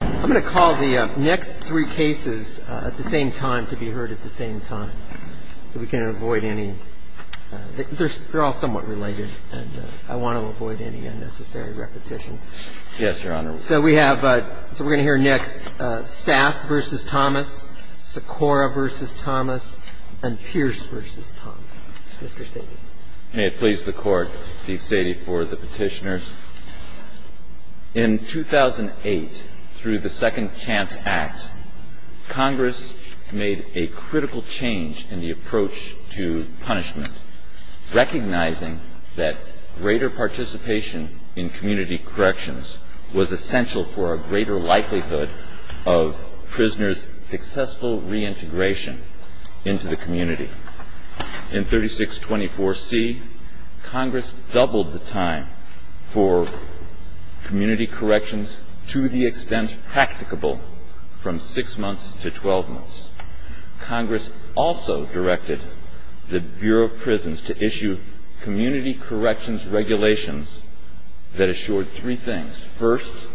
I'm going to call the next three cases at the same time to be heard at the same time, so we can avoid any... They're all somewhat related, and I want to avoid any unnecessary repetition. Yes, Your Honor. So we're going to hear next Sass v. Thomas, Secora v. Thomas, and Pierce v. Thomas. Mr. Sady. May it please the Court, Steve Sady for the petitioners. In 2008, through the Second Chance Act, Congress made a critical change in the approach to punishment, recognizing that greater participation in community corrections was essential for a greater likelihood of prisoners' successful reintegration into the community. In 3624C, Congress doubled the time for community corrections to the extent practicable from six months to 12 months. Congress also directed the Bureau of Prisons to issue community corrections regulations that assured three things. First,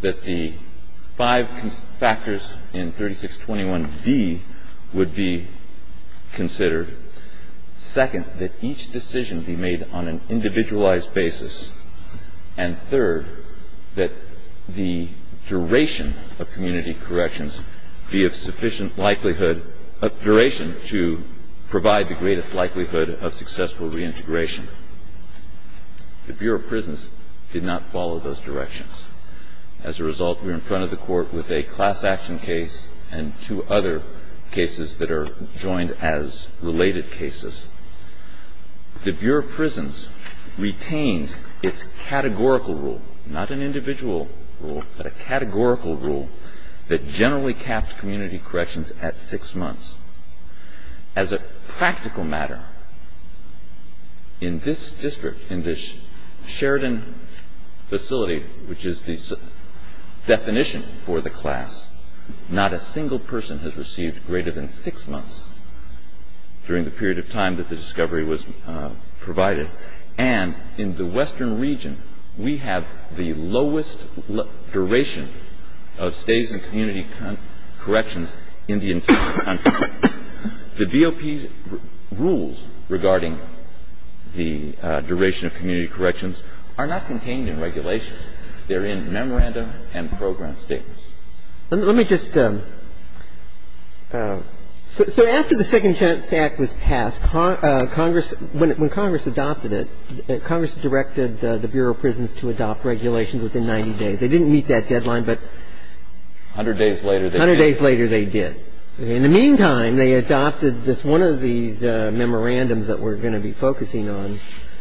that the five factors in 3621D would be considered. Second, that each decision be made on an individualized basis. And third, that the duration of community corrections be of sufficient likelihood of duration to provide the greatest likelihood of successful reintegration. The Bureau of Prisons did not follow those directions. As a result, we're in front of the Court with a class action case and two other cases that are joined as related cases. The Bureau of Prisons retained its categorical rule, not an individual rule, but a categorical rule that generally capped community corrections at six months. As a practical matter, in this district, in this Sheridan facility, which is the definition for the class, not a single person has received greater than six months during the period of time that the discovery was provided. And in the western region, we have the lowest duration of stays in community corrections in the entire country. The DOP's rules regarding the duration of community corrections are not contained in regulations. They're in memorandum and program statements. Let me just – so after the Second Chance Act was passed, Congress – when Congress adopted it, Congress directed the Bureau of Prisons to adopt regulations within 90 days. They didn't meet that deadline, but – A hundred days later, they did. A hundred days later, they did. In the meantime, they adopted this – one of these memorandums that we're going to be focusing on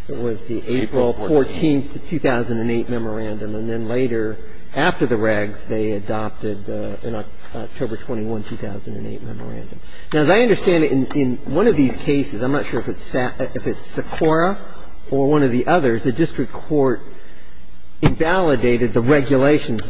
was the April 14, 2008, memorandum. And then later, after the regs, they adopted the October 21, 2008, memorandum. Now, as I understand it, in one of these cases, I'm not sure if it's Secura or one of the others, the district court invalidated the regulations that that – And then later, on October 24, 2008, the Board of Trustees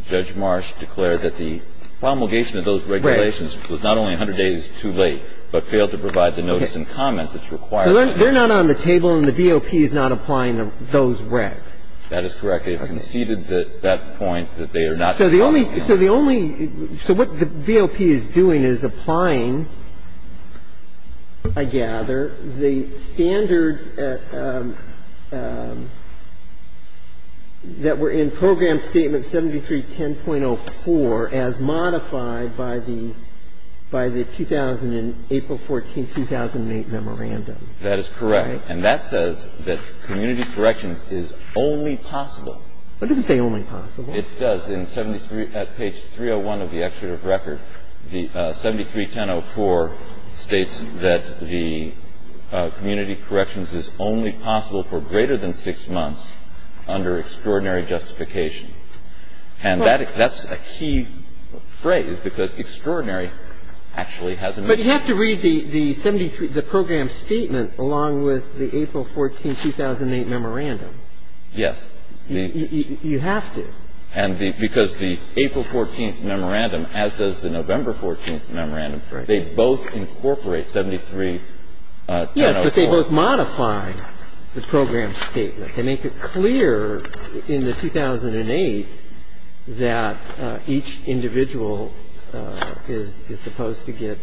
of Orange Marsh declared that the promulgation of those regulations was not only a hundred days too late, but failed to provide the notice and comment that's required. So they're not on the table, and the DOP is not applying those regs? That is correct. They've conceded that point that they are not adopting them. So the only, so the only, so what the DOP is doing is applying, I gather, the standards that were in Program Statement 73-10.04 as modified by the, by the 2000, April 14, 2008 memorandum. That is correct. And that says that community corrections is only possible. But it doesn't say only possible. It does. In 73, at page 301 of the executive record, the 73-10.04 states that the community corrections is only possible for greater than six months under extraordinary justification. And that's a key phrase, because extraordinary actually has a meaning. But you have to read the 73, the Program Statement, along with the April 14, 2008 memorandum. Yes. You have to. And the, because the April 14th memorandum, as does the November 14th memorandum, they both incorporate 73-10.04. Yes, but they both modify the Program Statement. They make it clear in the 2008 that each individual is supposed to get,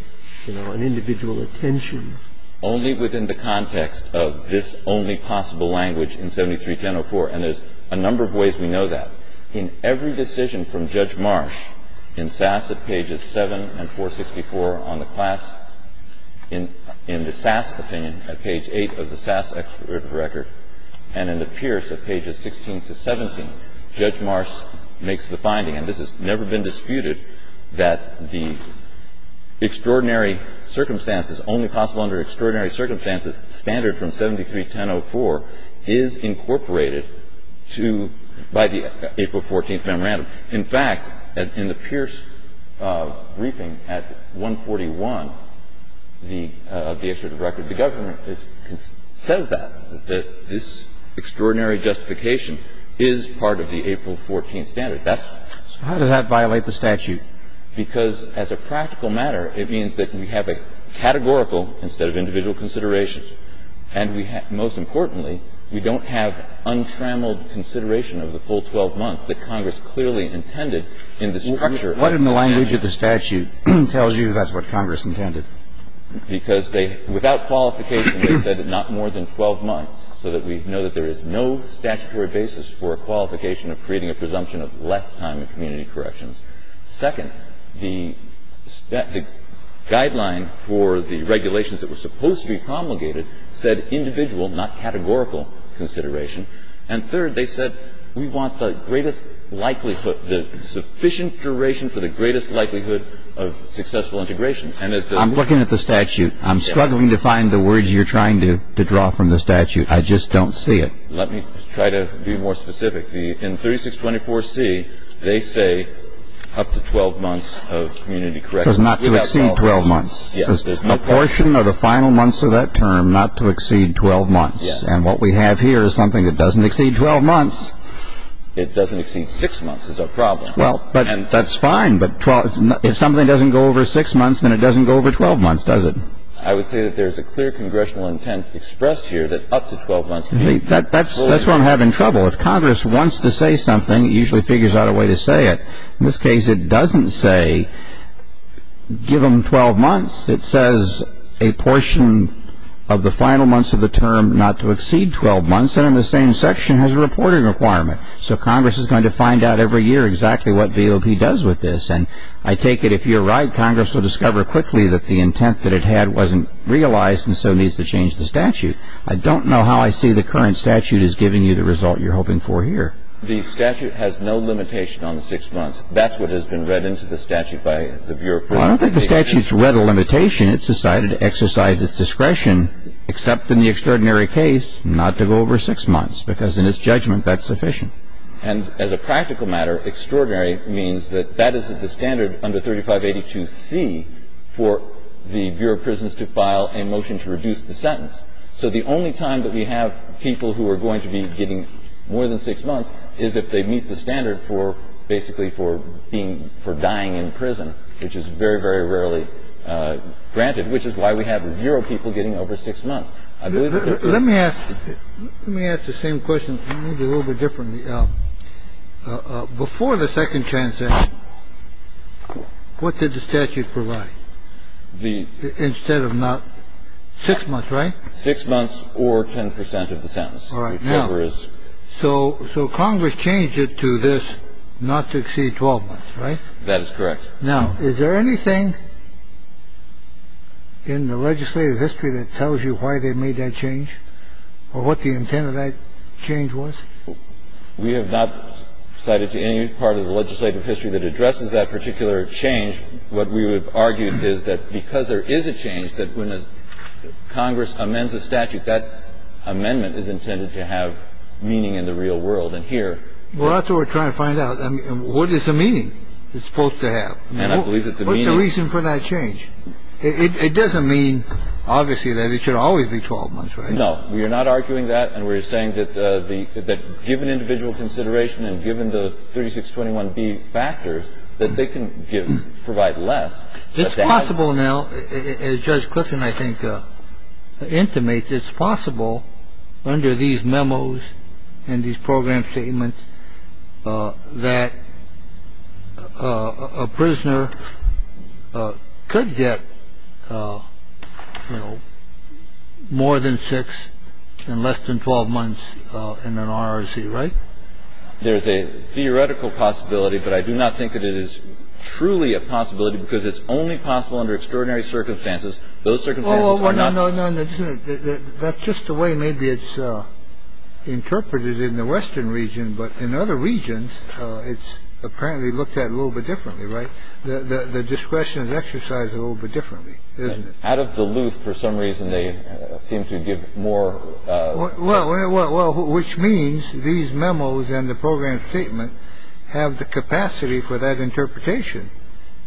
you know, an individual attention. Only within the context of this only possible language in 73-10.04, and there's a number of ways we know that. In every decision from Judge Marsh in Sass at pages 7 and 464 on the class, in the Sass opinion at page 8 of the Sass executive record, and in the Pierce at pages 16 to 17, Judge Marsh makes the finding, and this has never been disputed, that the extraordinary circumstances, only possible under extraordinary circumstances, standard from 73-10.04 is incorporated to, by the April 14th memorandum. In fact, in the Pierce briefing at 141, the, of the executive record, the government says that, that this extraordinary justification is part of the April 14th standard. That's the statute. So how does that violate the statute? Because as a practical matter, it means that we have a categorical instead of individual consideration, and we have, most importantly, we don't have untrammeled consideration of the full 12 months that Congress clearly intended in the structure of the statute. What in the language of the statute tells you that's what Congress intended? Because they, without qualification, they said not more than 12 months so that we know that there is no statutory basis for a qualification of creating a presumption of less time in community corrections. Second, the guideline for the regulations that were supposed to be promulgated said individual, not categorical, consideration. And third, they said, we want the greatest likelihood, the sufficient duration for the greatest likelihood of successful integration. And as the ---- I'm looking at the statute. I'm struggling to find the words you're trying to draw from the statute. I just don't see it. Let me try to be more specific. In 3624C, they say up to 12 months of community corrections. It says not to exceed 12 months. Yes. It says a portion of the final months of that term not to exceed 12 months. Yes. And what we have here is something that doesn't exceed 12 months. It doesn't exceed 6 months is our problem. Well, but ---- And that's fine, but if something doesn't go over 6 months, then it doesn't go over 12 months, does it? I would say that there's a clear congressional intent expressed here that up to 12 months That's where I'm having trouble. If Congress wants to say something, it usually figures out a way to say it. In this case, it doesn't say give them 12 months. It says a portion of the final months of the term not to exceed 12 months. And in the same section, it has a reporting requirement. So Congress is going to find out every year exactly what VOP does with this. And I take it if you're right, Congress will discover quickly that the intent that it had wasn't realized and so needs to change the statute. I don't know how I see the current statute as giving you the result you're hoping for here. The statute has no limitation on 6 months. That's what has been read into the statute by the Bureau of Prisons. I don't think the statute's read a limitation. It's decided to exercise its discretion, except in the extraordinary case, not to go over 6 months, because in its judgment, that's sufficient. And as a practical matter, extraordinary means that that is the standard under 3582C for the Bureau of Prisons to file a motion to reduce the sentence. So the only time that we have people who are going to be getting more than 6 months is if they meet the standard for basically for being for dying in prison, which is very, very rarely granted, which is why we have zero people getting over 6 months. I believe that's the case. Let me ask the same question, maybe a little bit differently. Before the second transaction, what did the statute provide instead of not 6 months, right? 6 months or 10 percent of the sentence. All right. So Congress changed it to this, not to exceed 12 months, right? That is correct. Now, is there anything in the legislative history that tells you why they made that change or what the intent of that change was? We have not cited to any part of the legislative history that addresses that particular change. What we would argue is that because there is a change, that when Congress amends a statute, that amendment is intended to have meaning in the real world. And here Well, that's what we're trying to find out. I mean, what is the meaning it's supposed to have? And I believe that the meaning What's the reason for that change? It doesn't mean, obviously, that it should always be 12 months, right? Well, we're not arguing that. And we're saying that given individual consideration and given the 3621B factors, that they can provide less. It's possible now, as Judge Clifton, I think, intimates, it's possible under these memos and these program statements that a prisoner could get, you know, more than six and less than 12 months in an RRC, right? There's a theoretical possibility, but I do not think that it is truly a possibility because it's only possible under extraordinary circumstances. Those circumstances are not No, no, no. That's just the way maybe it's interpreted in the Western region. But in other regions, it's apparently looked at a little bit differently. Right. The discretion is exercised a little bit differently. Out of Duluth, for some reason, they seem to give more. Well, which means these memos and the program statement have the capacity for that interpretation,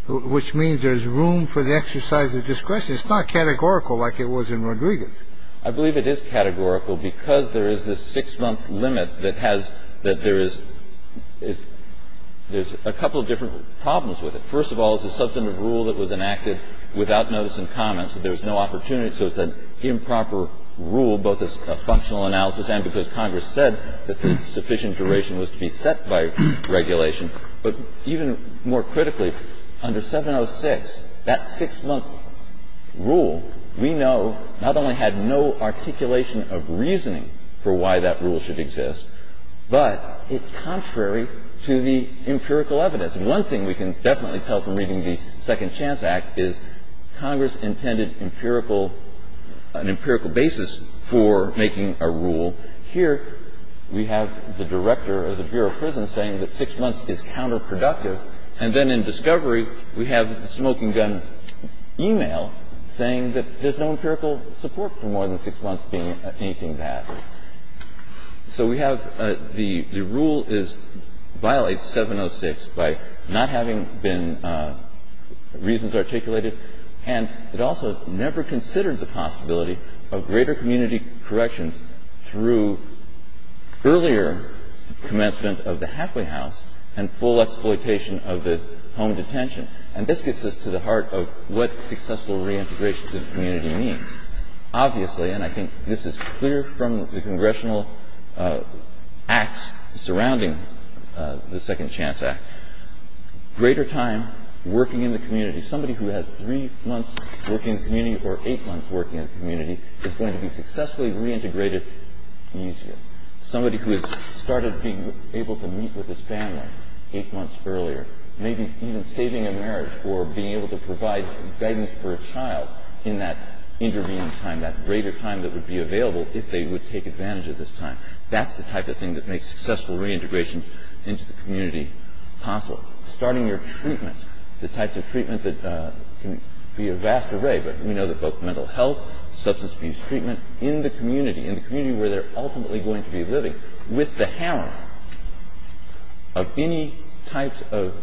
which means there's room for the exercise of discretion. It's not categorical like it was in Rodriguez. I believe it is categorical because there is this six-month limit that has that there is there's a couple of different problems with it. First of all, it's a substantive rule that was enacted without notice and comment, so there's no opportunity. So it's an improper rule, both as a functional analysis and because Congress said that the sufficient duration was to be set by regulation. But even more critically, under 706, that six-month rule, we know, not only had no articulation of reasoning for why that rule should exist, but it's contrary to the empirical evidence. One thing we can definitely tell from reading the Second Chance Act is Congress intended empirical an empirical basis for making a rule. Here we have the director of the Bureau of Prison saying that six months is counterproductive. And then in discovery, we have the smoking gun e-mail saying that there's no empirical support for more than six months being anything bad. So we have the rule violates 706 by not having been reasons articulated, and it also never considered the possibility of greater community corrections through earlier commencement of the halfway house and full exploitation of the home detention. And this gets us to the heart of what successful reintegration to the community means. Obviously, and I think this is clear from the congressional acts surrounding the Second Chance Act, greater time working in the community, somebody who has three months working in the community or eight months working in the community is going to be successfully reintegrated easier. Somebody who has started being able to meet with his family eight months earlier, maybe even saving a marriage or being able to provide guidance for a child in that intervening time, that greater time that would be available if they would take advantage of this time, that's the type of thing that makes successful reintegration into the community possible. Starting your treatment, the types of treatment that can be a vast array, but we know that both mental health, substance abuse treatment in the community, in the community where they're ultimately going to be living, with the hammer of any types of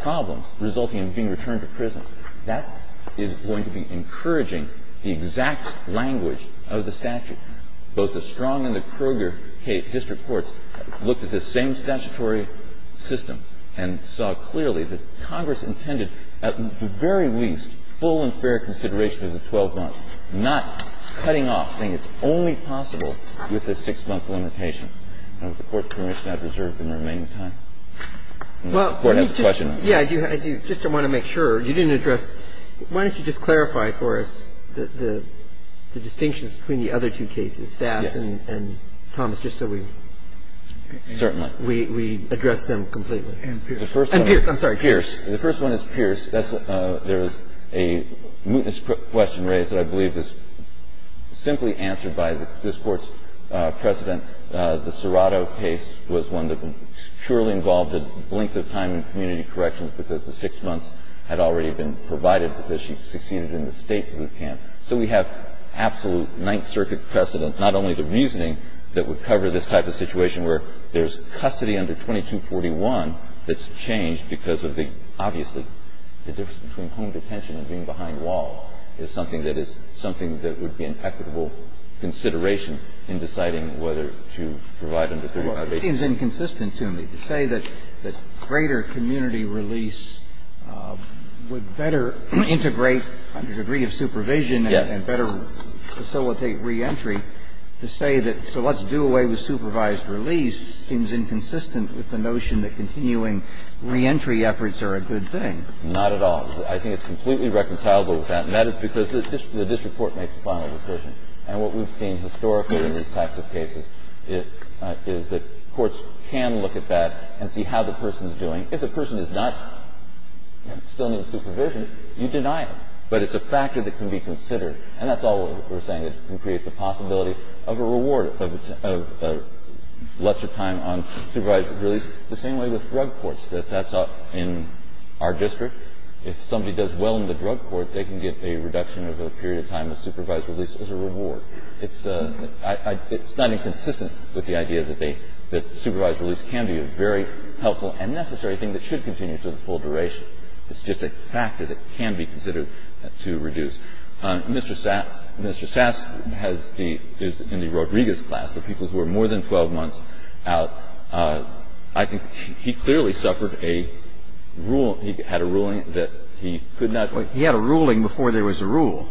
problems resulting in being returned to prison, that is going to be encouraging the exact language of the statute. Both the Strong and the Kroger District Courts looked at this same statutory system and saw clearly that Congress intended at the very least full and fair consideration of the 12 months, not cutting off, saying it's only possible with the six-month limitation. And with the Court's permission, I have reserved the remaining time. The Court has a question. Well, let me just – yeah, I just want to make sure. You didn't address – why don't you just clarify for us the distinctions between the other two cases, Sass and Thomas, just so we – Certainly. We address them completely. And Pierce. I'm sorry, Pierce. The first one is Pierce. There is a mootness question raised that I believe is simply answered by this Court's precedent. The Serrato case was one that purely involved a length of time in community corrections because the six months had already been provided because she succeeded in the state boot camp. So we have absolute Ninth Circuit precedent, not only the reasoning that would cover this type of situation where there's custody under 2241 that's changed because of the – obviously, the difference between home detention and being behind walls is something that is – something that would be an equitable consideration in deciding whether to provide under 325A. Well, it seems inconsistent to me to say that greater community release would better integrate a degree of supervision and better facilitate reentry to say that, so let's do away with supervised release, seems inconsistent with the notion that continuing reentry efforts are a good thing. Not at all. I think it's completely reconcilable with that, and that is because the district court makes the final decision. And what we've seen historically in these types of cases is that courts can look at that and see how the person is doing. If the person is not still under supervision, you deny it, but it's a factor that can be considered. And that's all we're saying, that it can create the possibility of a reward of lesser time on supervised release, the same way with drug courts, that that's in our district. If somebody does well in the drug court, they can get a reduction of a period of time on supervised release as a reward. It's not inconsistent with the idea that supervised release can be a very helpful and necessary thing that should continue to the full duration. It's just a factor that can be considered to reduce. Mr. Sass has the – is in the Rodriguez class, the people who are more than 12 months out. I think he clearly suffered a rule – he had a ruling that he could not – He had a ruling before there was a rule.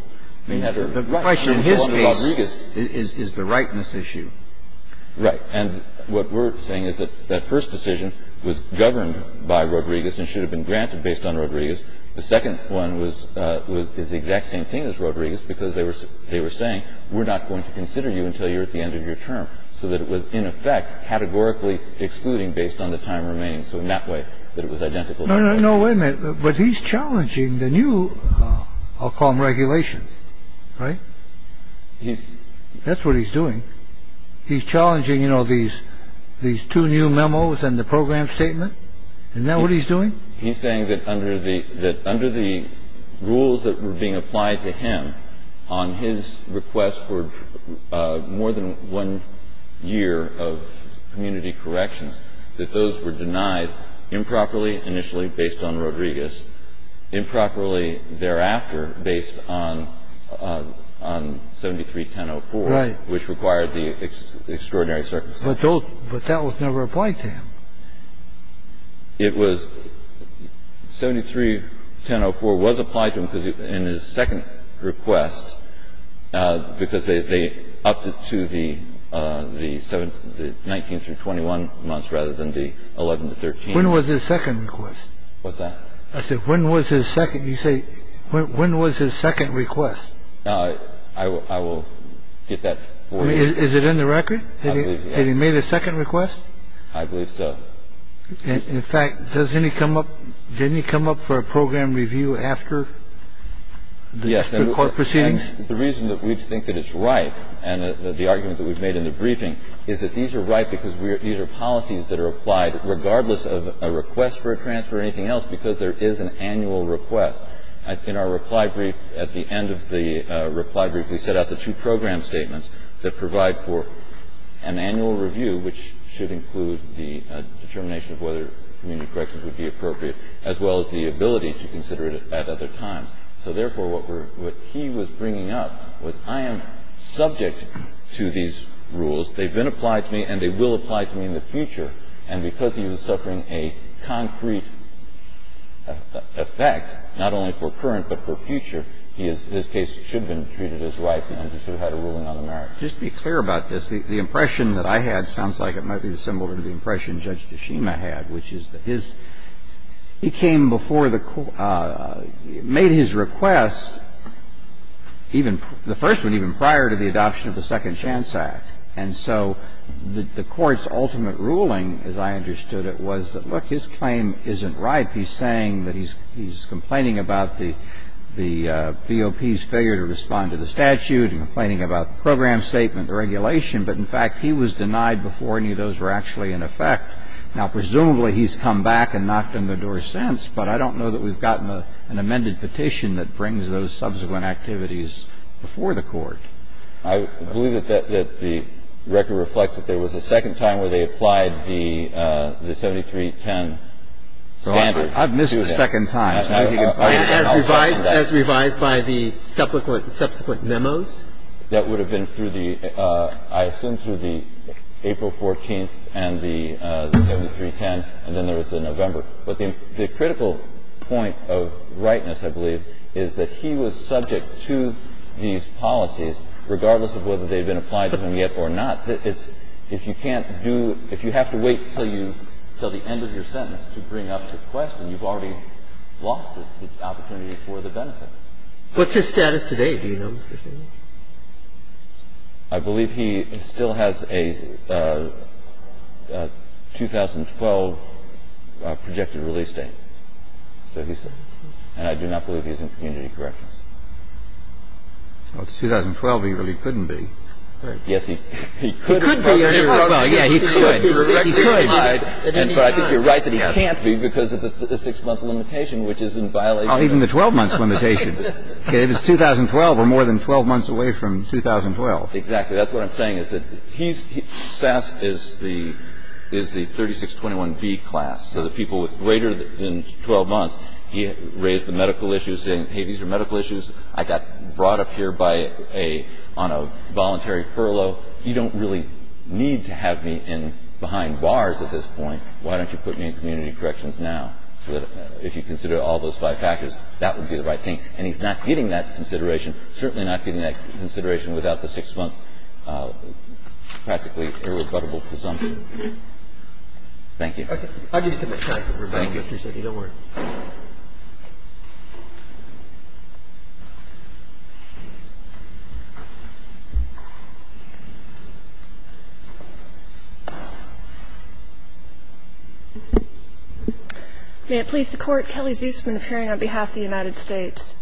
The question in his case is the rightness issue. Right. And what we're saying is that that first decision was governed by Rodriguez and should have been granted based on Rodriguez. The second one was the exact same thing as Rodriguez, because they were saying, we're not going to consider you until you're at the end of your term, so that it was, in effect, categorically excluding based on the time remaining. So in that way, that it was identical. No, no, no. Wait a minute. But he's challenging the new – I'll call them regulations. Right? He's – That's what he's doing. He's challenging, you know, these two new memos and the program statement. Isn't that what he's doing? He's saying that under the – that under the rules that were being applied to him on his request for more than one year of community corrections, that those were denied improperly initially based on Rodriguez, improperly thereafter based on – on 73-1004. Right. Which required the extraordinary circumstances. But those – but that was never applied to him. It was – 73-1004 was applied to him because in his second request, because they So he didn't get up to the – the 19 through 21 months rather than the 11 to 13. When was his second request? What's that? I said when was his second – you say when was his second request? I will get that for you. Is it in the record? I believe so. Had he made a second request? I believe so. In fact, doesn't he come up – didn't he come up for a program review after the court proceedings? Yes. And the reason that we think that it's right, and the arguments that we've made in the briefing, is that these are right because these are policies that are applied regardless of a request for a transfer or anything else because there is an annual request. In our reply brief, at the end of the reply brief, we set out the two program statements that provide for an annual review, which should include the determination of whether community corrections would be appropriate, as well as the ability to consider it at other times. So therefore, what we're – what he was bringing up was I am subject to these rules. They've been applied to me and they will apply to me in the future. And because he was suffering a concrete effect, not only for current but for future, he is – his case should have been treated as right and understood how to rule in other merits. Just to be clear about this, the impression that I had sounds like it might be similar to the impression Judge Tshima had, which is that his – he came before the – made his request even – the first one even prior to the adoption of the Second Chance Act. And so the Court's ultimate ruling, as I understood it, was that, look, his claim isn't right. In fact, he's saying that he's complaining about the BOP's failure to respond to the statute and complaining about the program statement, the regulation. But, in fact, he was denied before any of those were actually in effect. Now, presumably, he's come back and knocked on the door since. But I don't know that we've gotten an amended petition that brings those subsequent activities before the Court. I believe that the record reflects that there was a second time where they applied the 7310 standard to him. I've missed the second time. As revised by the subsequent memos? That would have been through the – I assume through the April 14th and the 7310, and then there was the November. But the critical point of rightness, I believe, is that he was subject to these policies regardless of whether they had been applied to him yet or not. It's – if you can't do – if you have to wait until you – until the end of your sentence to bring up your question, you've already lost the opportunity for the benefit. What's his status today? Do you know, Mr. Shanley? I believe he still has a 2012 projected release date. That's what he said. And I do not believe he's in community corrections. Well, it's 2012. He really couldn't be. Yes, he could. He could be. Well, yeah, he could. He could. But I think you're right that he can't be because of the six-month limitation, which is in violation of – Even the 12-month limitation. Okay. It was 2012. We're more than 12 months away from 2012. Exactly. That's what I'm saying, is that he's – Sass is the – is the 3621B class, so the people with greater than 12 months. He raised the medical issues, saying, hey, these are medical issues. I got brought up here by a – on a voluntary furlough. You don't really need to have me in – behind bars at this point. Why don't you put me in community corrections now? So that if you consider all those five factors, that would be the right thing. And he's not getting that consideration, certainly not getting that consideration without the six-month practically irrebuttable presumption. Thank you. Okay. I'll give you some extra time for rebuttal. Thank you. Thank you, Judge. Thank you. Don't worry. May it please the Court. Kelly Zusman appearing on behalf of the United States.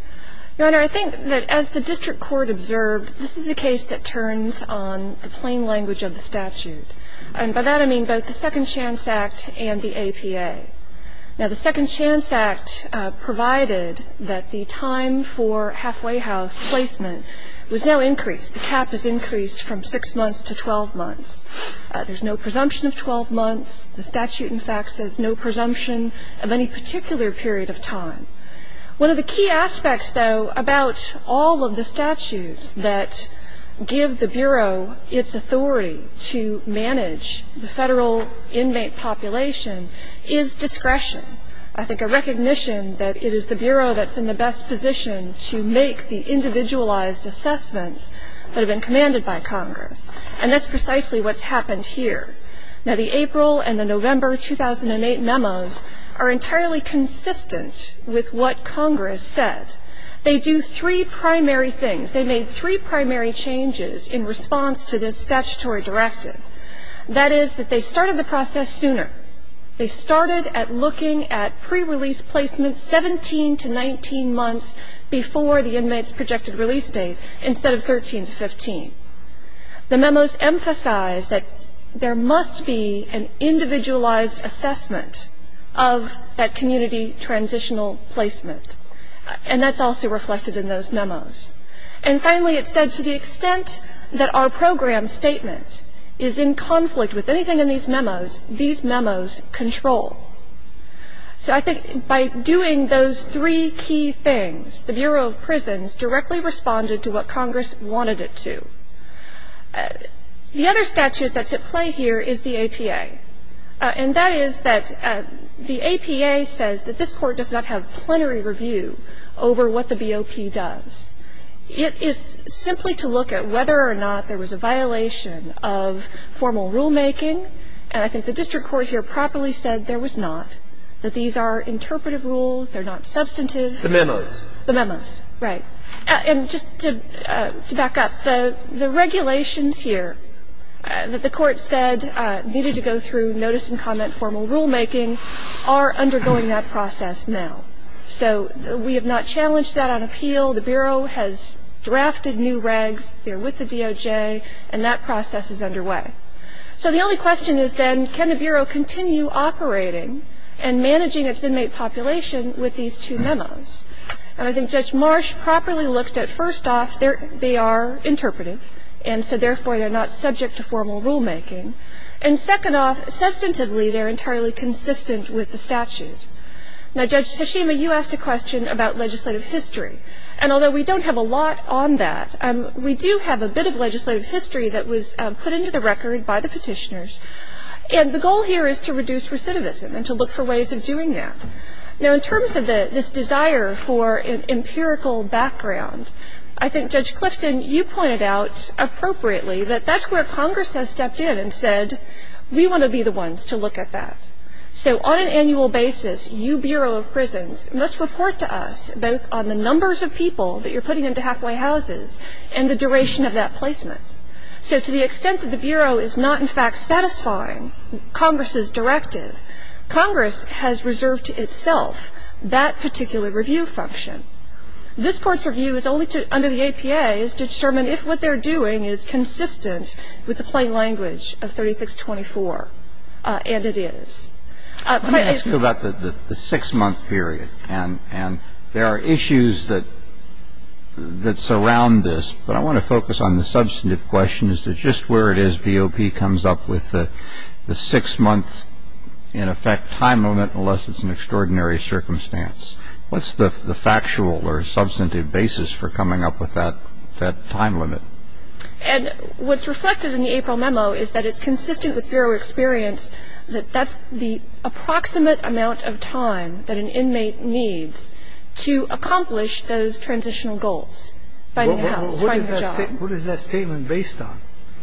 Your Honor, I think that as the district court observed, this is a case that turns on the plain language of the statute. And by that I mean both the Second Chance Act and the APA. Now, the Second Chance Act provided that the time for halfway house placement was now increased. The cap is increased from six months to 12 months. There's no presumption of 12 months. The statute, in fact, says no presumption of any particular period of time. One of the key aspects, though, about all of the statutes that give the Bureau its authority to manage the federal inmate population is discretion. I think a recognition that it is the Bureau that's in the best position to make the individualized assessments that have been commanded by Congress. And that's precisely what's happened here. Now, the April and the November 2008 memos are entirely consistent with what Congress said. They do three primary things. They made three primary changes in response to this statutory directive. That is that they started the process sooner. They started at looking at pre-release placement 17 to 19 months before the inmate's projected release date instead of 13 to 15. The memos emphasize that there must be an individualized assessment of that community transitional placement. And that's also reflected in those memos. And finally, it said to the extent that our program statement is in conflict with anything in these memos, these memos control. So I think by doing those three key things, the Bureau of Prisons directly responded to what Congress wanted it to. The other statute that's at play here is the APA. And that is that the APA says that this Court does not have plenary review over what the BOP does. It is simply to look at whether or not there was a violation of formal rulemaking, and I think the district court here properly said there was not, that these are interpretive rules, they're not substantive. The memos. The memos, right. And just to back up, the regulations here that the court said needed to go through notice and comment formal rulemaking are undergoing that process now. So we have not challenged that on appeal. The Bureau has drafted new regs. They're with the DOJ, and that process is underway. So the only question is then, can the Bureau continue operating and managing its inmate population with these two memos? And I think Judge Marsh properly looked at, first off, they are interpretive, and so therefore they're not subject to formal rulemaking. And second off, substantively, they're entirely consistent with the statute. Now, Judge Tashima, you asked a question about legislative history. And although we don't have a lot on that, we do have a bit of legislative history that was put into the record by the Petitioners. And the goal here is to reduce recidivism and to look for ways of doing that. Now, in terms of this desire for an empirical background, I think, Judge Clifton, you pointed out appropriately that that's where Congress has stepped in and said, we want to be the ones to look at that. So on an annual basis, you, Bureau of Prisons, must report to us both on the numbers of people that you're putting into halfway houses and the duration of that placement. So to the extent that the Bureau is not, in fact, satisfying Congress's directive, Congress has reserved to itself that particular review function. This Court's review is only to, under the APA, is to determine if what they're doing is consistent with the plain language of 3624. And it is. Let me ask you about the six-month period. And there are issues that surround this, but I want to focus on the substantive question, is that just where it is BOP comes up with the six-month, in effect, time limit, unless it's an extraordinary circumstance. What's the factual or substantive basis for coming up with that time limit? And what's reflected in the April memo is that it's consistent with Bureau experience that that's the approximate amount of time that an inmate needs to accomplish those transitional goals, finding a house, finding a job. And it's consistent with the time that an inmate needs to accomplish those transitional goals. So what is that statement based on?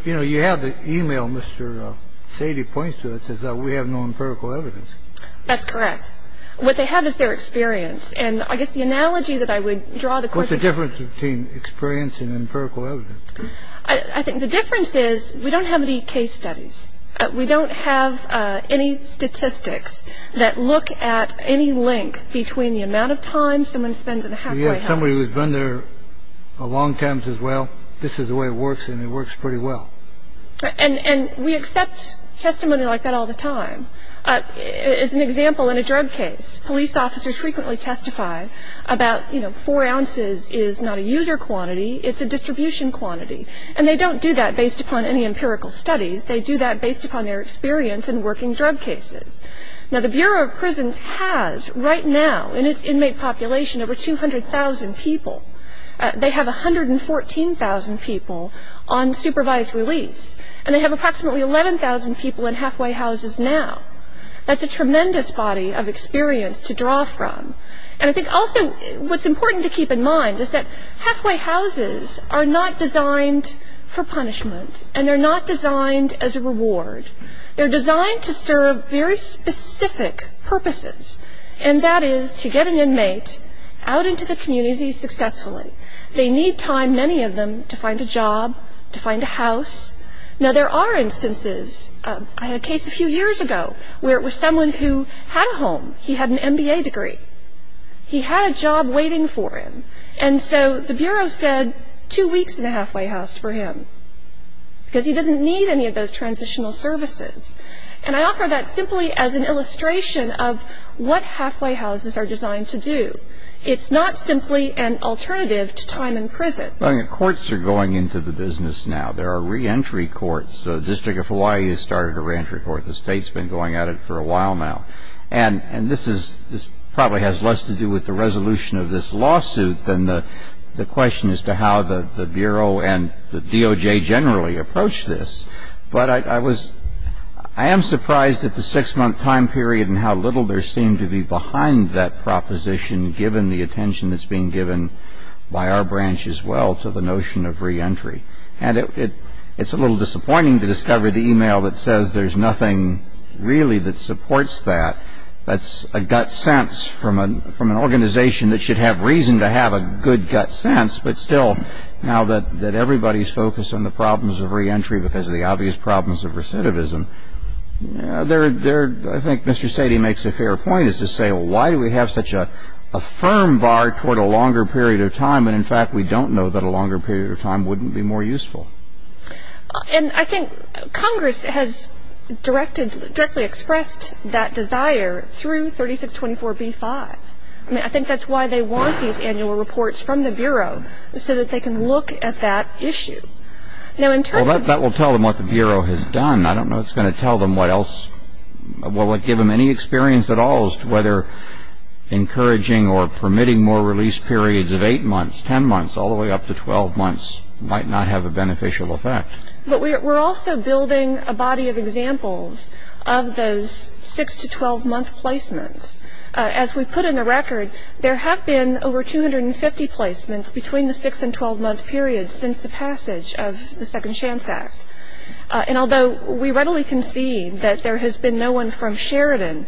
You know, you have the e-mail Mr. Sady points to that says that we have no empirical evidence. That's correct. What they have is their experience. And I guess the analogy that I would draw the Court to that is that we don't have any case studies. We don't have any statistics that look at any link between the amount of time someone spends in a halfway house. We have somebody who's been there a long time as well. This is the way it works, and it works pretty well. And we accept testimony like that all the time. As an example, in a drug case, police officers frequently testify about, you know, four ounces is not a user quantity, it's a distribution quantity. And they don't do that based upon any empirical studies. They do that based upon their experience in working drug cases. Now, the Bureau of Prisons has right now in its inmate population over 200,000 people. They have 114,000 people on supervised release. And they have approximately 11,000 people in halfway houses now. That's a tremendous body of experience to draw from. And I think also what's important to keep in mind is that halfway houses are not designed for punishment, and they're not designed as a reward. They're designed to serve very specific purposes, and that is to get an inmate out into the community successfully. They need time, many of them, to find a job, to find a house. Now, there are instances. I had a case a few years ago where it was someone who had a home. He had an MBA degree. He had a job waiting for him. And so the Bureau said two weeks in a halfway house for him because he doesn't need any of those transitional services. And I offer that simply as an illustration of what halfway houses are designed to do. It's not simply an alternative to time in prison. I mean, courts are going into the business now. There are reentry courts. The District of Hawaii has started a reentry court. The state's been going at it for a while now. And this probably has less to do with the resolution of this lawsuit than the question as to how the Bureau and the DOJ generally approach this. But I am surprised at the six-month time period and how little there seemed to be behind that proposition, given the attention that's being given by our branch as well to the notion of reentry. And it's a little disappointing to discover the e-mail that says there's nothing really that supports that. That's a gut sense from an organization that should have reason to have a good gut sense. But still, now that everybody's focused on the problems of reentry because of the obvious problems of recidivism, I think Mr. Sadie makes a fair point as to say, well, why do we have such a firm bar toward a longer period of time when, in fact, we don't know that a longer period of time wouldn't be more useful? And I think Congress has directly expressed that desire through 3624b-5. I mean, I think that's why they want these annual reports from the Bureau, so that they can look at that issue. Well, that will tell them what the Bureau has done. I don't know what's going to tell them what else will give them any experience at all whether encouraging or permitting more release periods of 8 months, 10 months, all the way up to 12 months might not have a beneficial effect. But we're also building a body of examples of those 6- to 12-month placements. As we put in the record, there have been over 250 placements between the 6- and 12-month period since the passage of the Second Chance Act. And although we readily concede that there has been no one from Sheridan,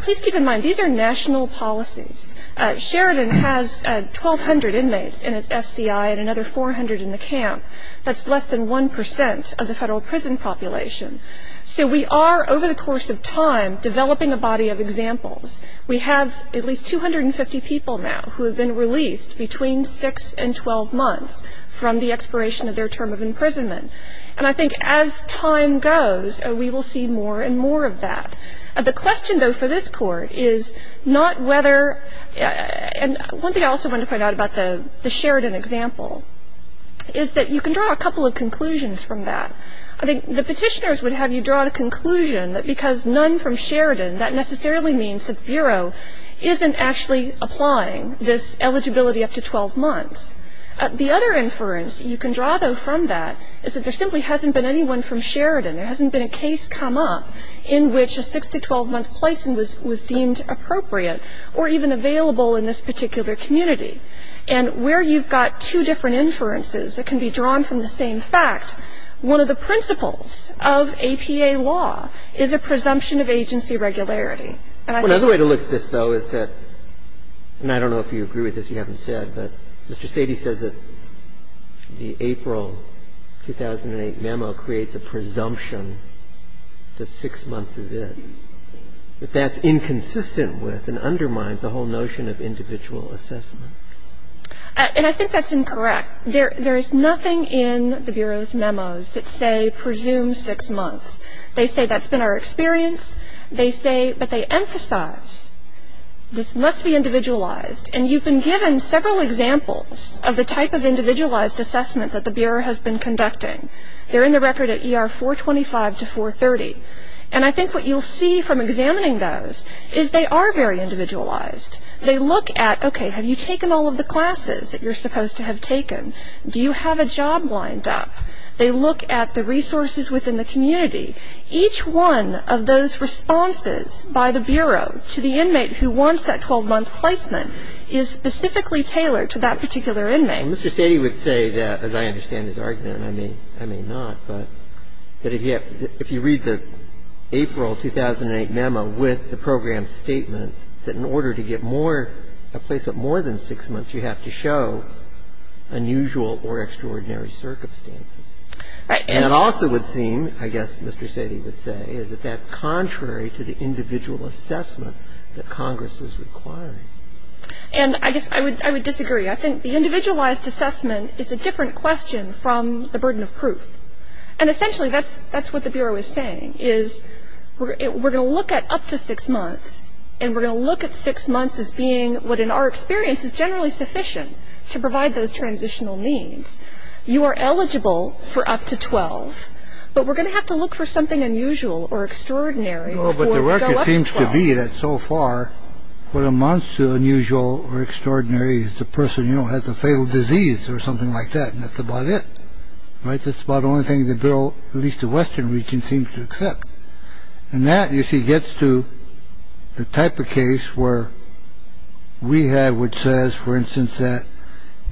please keep in mind these are national policies. Sheridan has 1,200 inmates in its FCI and another 400 in the camp. That's less than 1% of the federal prison population. So we are, over the course of time, developing a body of examples. We have at least 250 people now who have been released between 6 and 12 months from the expiration of their term of imprisonment. And I think as time goes, we will see more and more of that. The question, though, for this Court is not whether — and one thing I also want to point out about the Sheridan example is that you can draw a couple of conclusions from that. I think the petitioners would have you draw the conclusion that because none from Sheridan, that necessarily means that the Bureau isn't actually applying this eligibility up to 12 months. The other inference you can draw, though, from that is that there simply hasn't been anyone from Sheridan. There hasn't been a case come up in which a 6- to 12-month placement was deemed appropriate or even available in this particular community. And where you've got two different inferences that can be drawn from the same fact, one of the principles of APA law is a presumption of agency regularity. And I think that the other way to look at this, though, is that — and I don't know if you agree with this, you haven't said, but Mr. Sady says that the April 2008 memo creates a presumption that 6 months is it. But that's inconsistent with and undermines the whole notion of individual assessment. And I think that's incorrect. There is nothing in the Bureau's memos that say presume 6 months. They say that's been our experience. They say — but they emphasize this must be individualized. And you've been given several examples of the type of individualized assessment that the Bureau has been conducting. They're in the record at ER 425 to 430. And I think what you'll see from examining those is they are very individualized. They look at, okay, have you taken all of the classes that you're supposed to have taken? Do you have a job lined up? They look at the resources within the community. Each one of those responses by the Bureau to the inmate who wants that 12-month placement is specifically tailored to that particular inmate. And Mr. Sady would say that, as I understand his argument, and I may not, but if you read the April 2008 memo with the program statement, that in order to get more — a placement more than 6 months, you have to show unusual or extraordinary circumstances. And it also would seem, I guess Mr. Sady would say, is that that's contrary to the individual assessment that Congress is requiring. And I guess I would disagree. I think the individualized assessment is a different question from the burden of proof. And essentially that's what the Bureau is saying, is we're going to look at up to 6 months, and we're going to look at 6 months as being what in our experience is generally sufficient to provide those transitional needs. You are eligible for up to 12, but we're going to have to look for something unusual or extraordinary before we go up to 12. It seems to me that so far, what amounts to unusual or extraordinary is the person, you know, has a fatal disease or something like that. And that's about it. Right. That's about the only thing the Bureau, at least the Western region, seems to accept. And that, you see, gets to the type of case where we have, which says, for instance, that,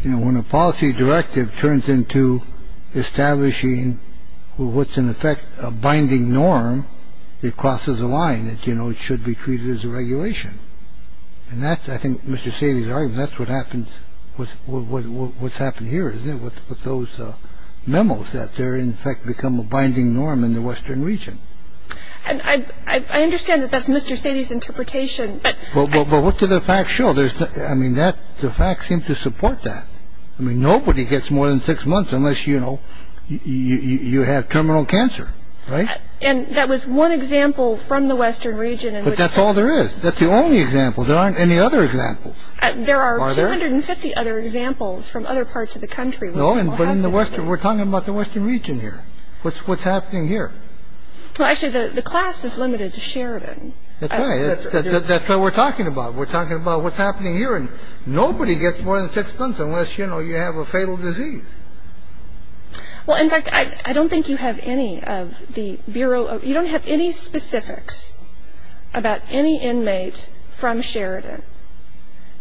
you know, when a policy directive turns into establishing what's in effect a binding norm, it crosses a line that, you know, should be treated as a regulation. And that's, I think, Mr. Sadie's argument. That's what happens, what's happened here, isn't it, with those memos, that they're in effect become a binding norm in the Western region. And I understand that that's Mr. Sadie's interpretation. But what do the facts show? I mean, the facts seem to support that. I mean, nobody gets more than 6 months unless, you know, you have terminal cancer. Right. And that was one example from the Western region. But that's all there is. That's the only example. There aren't any other examples. Are there? There are 250 other examples from other parts of the country. No, but in the Western, we're talking about the Western region here. What's happening here? Well, actually, the class is limited to Sheridan. That's right. That's what we're talking about. We're talking about what's happening here. And nobody gets more than 6 months unless, you know, you have a fatal disease. Well, in fact, I don't think you have any of the Bureau. You don't have any specifics about any inmate from Sheridan.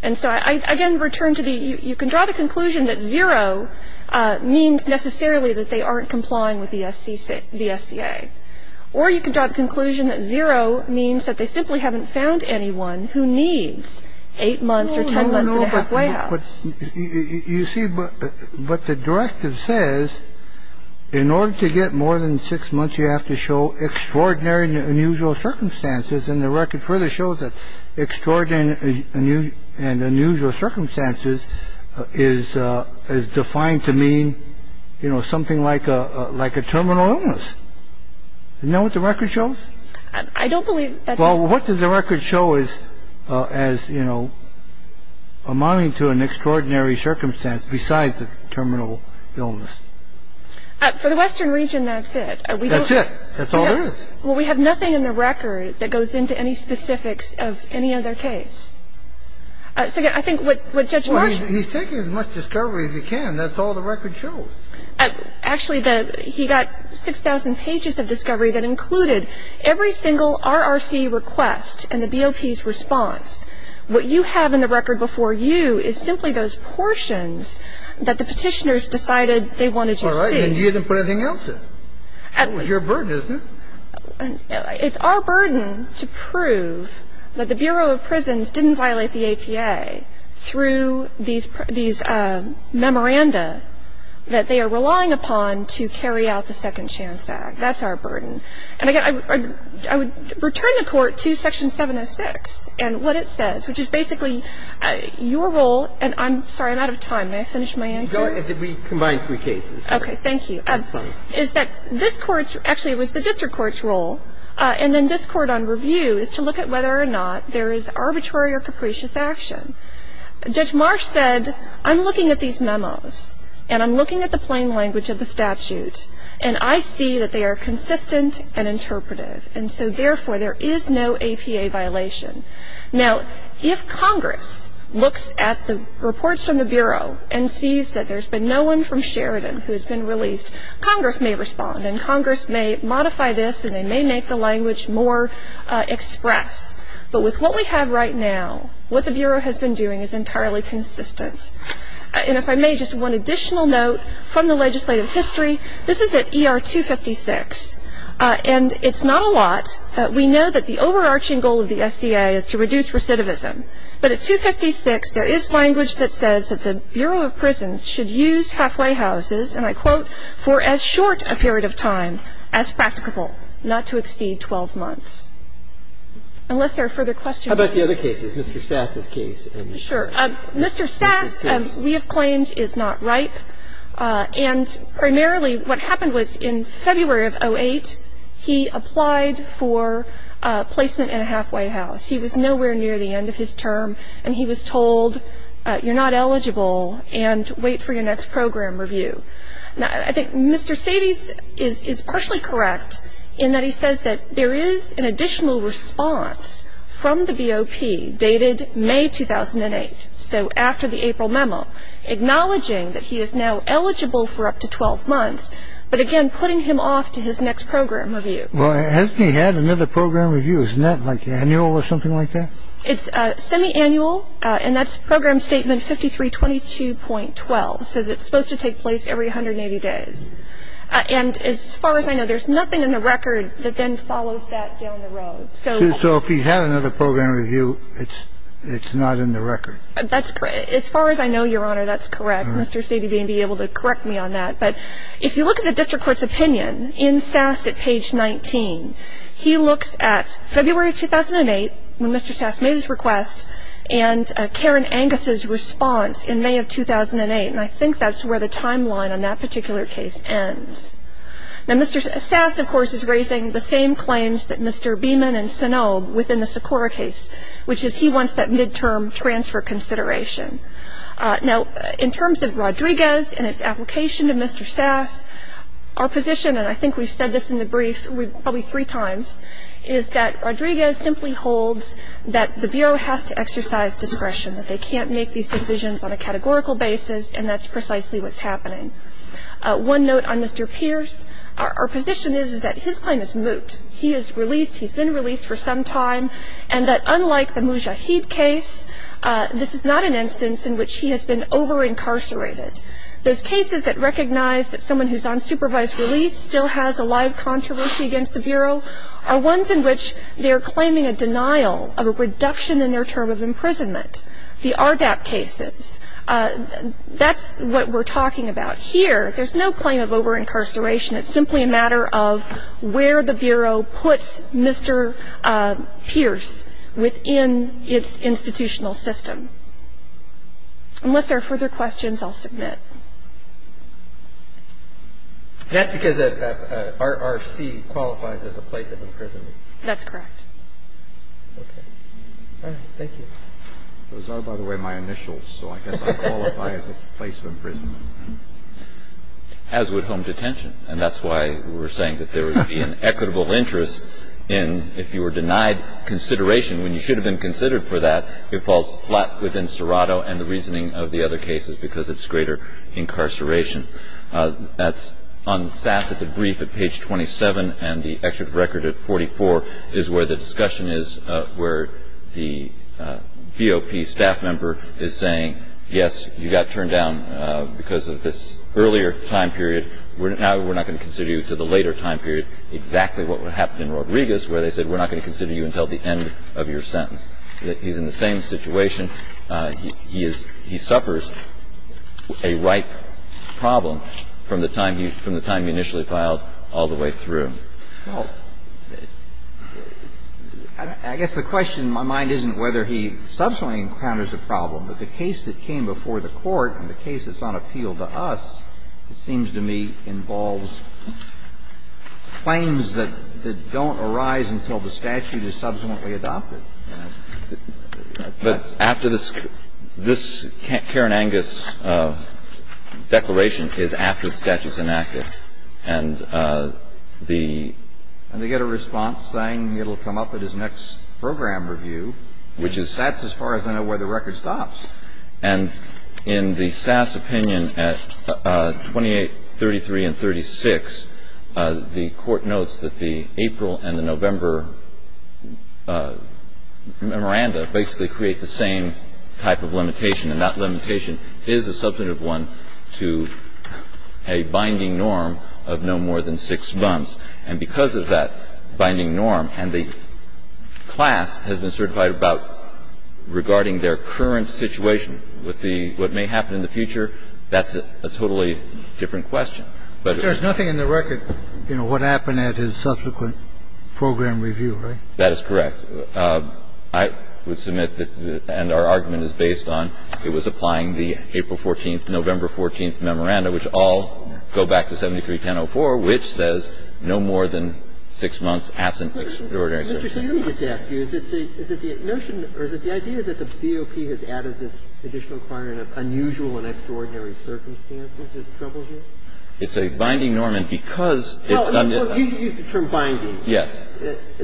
And so I, again, return to the you can draw the conclusion that zero means necessarily that they aren't complying with the SCA. Or you can draw the conclusion that zero means that they simply haven't found anyone who needs 8 months or 10 months and a half. You see, but the directive says in order to get more than six months, you have to show extraordinary unusual circumstances. And the record further shows that extraordinary and unusual circumstances is defined to mean, you know, something like a like a terminal illness. You know what the record shows? I don't believe that. Well, what does the record show is as, you know, amounting to an extraordinary circumstance besides the terminal illness? For the western region, that's it. That's it. That's all there is. Well, we have nothing in the record that goes into any specifics of any other case. So I think what Judge Marshall. He's taking as much discovery as he can. That's all the record shows. Actually, he got 6,000 pages of discovery that included every single RRC request and the BOP's response. What you have in the record before you is simply those portions that the Petitioners decided they wanted to see. All right. And you didn't put anything else in. That was your burden, isn't it? It's our burden to prove that the Bureau of Prisons didn't violate the APA through these memoranda that they are relying upon to carry out the Second Chance Act. That's our burden. And, again, I would return the Court to Section 706 and what it says, which is basically your role. And I'm sorry. I'm out of time. May I finish my answer? Go ahead. We combined three cases. Okay. Thank you. I'm sorry. Is that this Court's, actually it was the District Court's role, and then this Court on review is to look at whether or not there is arbitrary or capricious action. Judge Marsh said, I'm looking at these memos and I'm looking at the plain language of the statute and I see that they are consistent and interpretive. And so, therefore, there is no APA violation. Now, if Congress looks at the reports from the Bureau and sees that there's been no one from Sheridan who has been released, Congress may respond and Congress may modify this and they may make the language more express. But with what we have right now, what the Bureau has been doing is entirely consistent. And if I may, just one additional note from the legislative history. This is at ER 256. And it's not a lot. We know that the overarching goal of the SCA is to reduce recidivism. But at 256, there is language that says that the Bureau of Prisons should use halfway houses, and I quote, unless there are further questions. How about the other cases, Mr. Sass's case? Sure. Mr. Sass, we have claimed, is not ripe. And primarily what happened was in February of 2008, he applied for placement in a halfway house. He was nowhere near the end of his term and he was told, you're not eligible and wait for your next program review. Now, I think Mr. Sadie's is partially correct in that he says that there is an additional response from the BOP dated May 2008. So after the April memo, acknowledging that he is now eligible for up to 12 months, but again putting him off to his next program review. Well, hasn't he had another program review? Isn't that like annual or something like that? It's semi-annual. And that's Program Statement 5322.12. It says it's supposed to take place every 180 days. And as far as I know, there's nothing in the record that then follows that down the road. So if he had another program review, it's not in the record. That's correct. As far as I know, Your Honor, that's correct. Mr. Sadie may be able to correct me on that. But if you look at the district court's opinion in Sass at page 19, he looks at February 2008, when Mr. Sass made his request, and Karen Angus' response in May of 2008. And I think that's where the timeline on that particular case ends. Now, Mr. Sass, of course, is raising the same claims that Mr. Beeman and Sanob within the Sakura case, which is he wants that midterm transfer consideration. Now, in terms of Rodriguez and its application to Mr. Sass, our position, and I think we've said this in the brief probably three times, is that Rodriguez simply holds that the Bureau has to exercise discretion, that they can't make these decisions on a categorical basis, and that's precisely what's happening. One note on Mr. Pierce. Our position is, is that his claim is moot. He is released. He's been released for some time. And that unlike the Mujahid case, this is not an instance in which he has been over-incarcerated. Those cases that recognize that someone who's on supervised release still has a live controversy against the Bureau are ones in which they're claiming a denial of a reduction in their term of imprisonment. The RDAP cases, that's what we're talking about here. There's no claim of over-incarceration. It's simply a matter of where the Bureau puts Mr. Pierce within its institutional system. Unless there are further questions, I'll submit. That's because RFC qualifies as a place of imprisonment. That's correct. Okay. All right. Thank you. Those are, by the way, my initials, so I guess I qualify as a place of imprisonment. As would home detention. And that's why we were saying that there would be an equitable interest in if you were denied consideration, when you should have been considered for that, it falls flat within Serrato and the reasoning of the other cases because it's greater incarceration. That's on SAS at the brief at page 27 and the excerpt record at 44 is where the discussion is, where the BOP staff member is saying, yes, you got turned down because of this earlier time period. Now we're not going to consider you to the later time period, exactly what happened in Rodriguez, where they said we're not going to consider you until the end of your sentence. He's in the same situation. He is – he suffers a ripe problem from the time he – from the time he initially filed all the way through. Well, I guess the question in my mind isn't whether he subsequently encounters a problem, but the case that came before the Court and the case that's on appeal to us, it seems to me, involves claims that don't arise until the statute is subsequently adopted. But after this – this Karen Angus declaration is after the statute is enacted, and the – And they get a response saying it will come up at his next program review, which is – That's as far as I know where the record stops. And in the Sass opinion at 2833 and 36, the Court notes that the April and the November memoranda basically create the same type of limitation, and that limitation is a substantive one to a binding norm of no more than six months. And because of that binding norm, and the class has been certified about regarding their current situation with the – what may happen in the future, that's a totally different question. But there's nothing in the record, you know, what happened at his subsequent program review, right? That is correct. I would submit that – and our argument is based on it was applying the April 14th, November 14th memoranda, which all go back to 731004, which says no more than six months absent extraordinary circumstances. So, Mr. Sotomayor, I just want to ask you, is it the notion or is it the idea that the VOP has added this additional requirement of unusual and extraordinary circumstances that troubles you? It's a binding norm, and because it's under the – Oh. You used the term binding. Yes.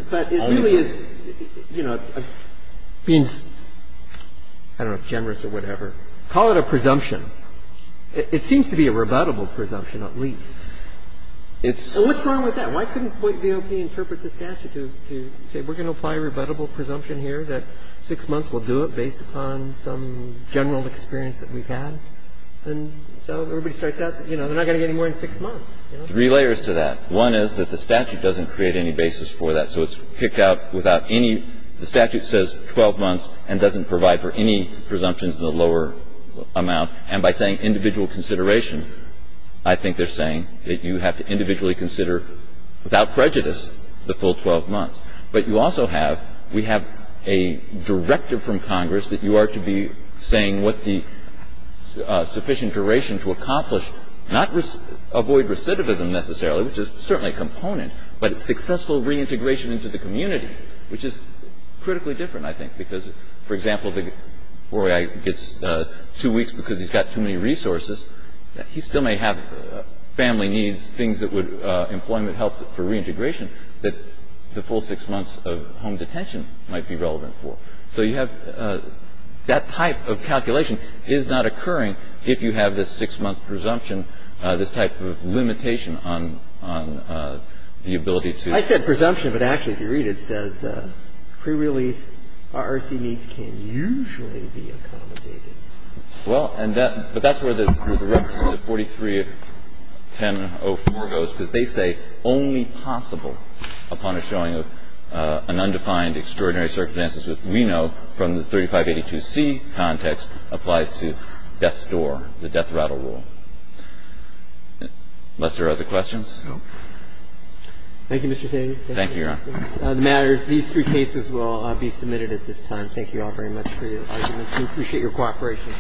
But it really is, you know, being – I don't know, generous or whatever. Call it a presumption. It seems to be a rebuttable presumption, at least. It's – So what's wrong with that? Why couldn't the VOP interpret the statute to say we're going to apply a rebuttable presumption here that six months will do it based upon some general experience that we've had? And so everybody starts out, you know, they're not going to get any more than six months, you know? Three layers to that. One is that the statute doesn't create any basis for that. So it's picked out without any – the statute says 12 months and doesn't provide for any presumptions in the lower amount. And by saying individual consideration, I think they're saying that you have to consider, without prejudice, the full 12 months. But you also have – we have a directive from Congress that you are to be saying what the sufficient duration to accomplish, not avoid recidivism necessarily, which is certainly a component, but successful reintegration into the community, which is critically different, I think, because, for example, the FOIA gets two weeks because he's got too many resources, he still may have family needs, things that would – employment help for reintegration that the full six months of home detention might be relevant for. So you have – that type of calculation is not occurring if you have this six-month presumption, this type of limitation on the ability to do that. I said presumption, but actually, if you read it, it says pre-release RRC needs can usually be accommodated. Well, and that – but that's where the reference to 43 of 1004 goes, because they say only possible upon a showing of an undefined extraordinary circumstances which we know from the 3582C context applies to death's door, the death rattle rule. Unless there are other questions. Thank you, Mr. Cheney. Thank you, Your Honor. The matter – these three cases will be submitted at this time. Thank you all very much for your arguments. We appreciate your cooperation.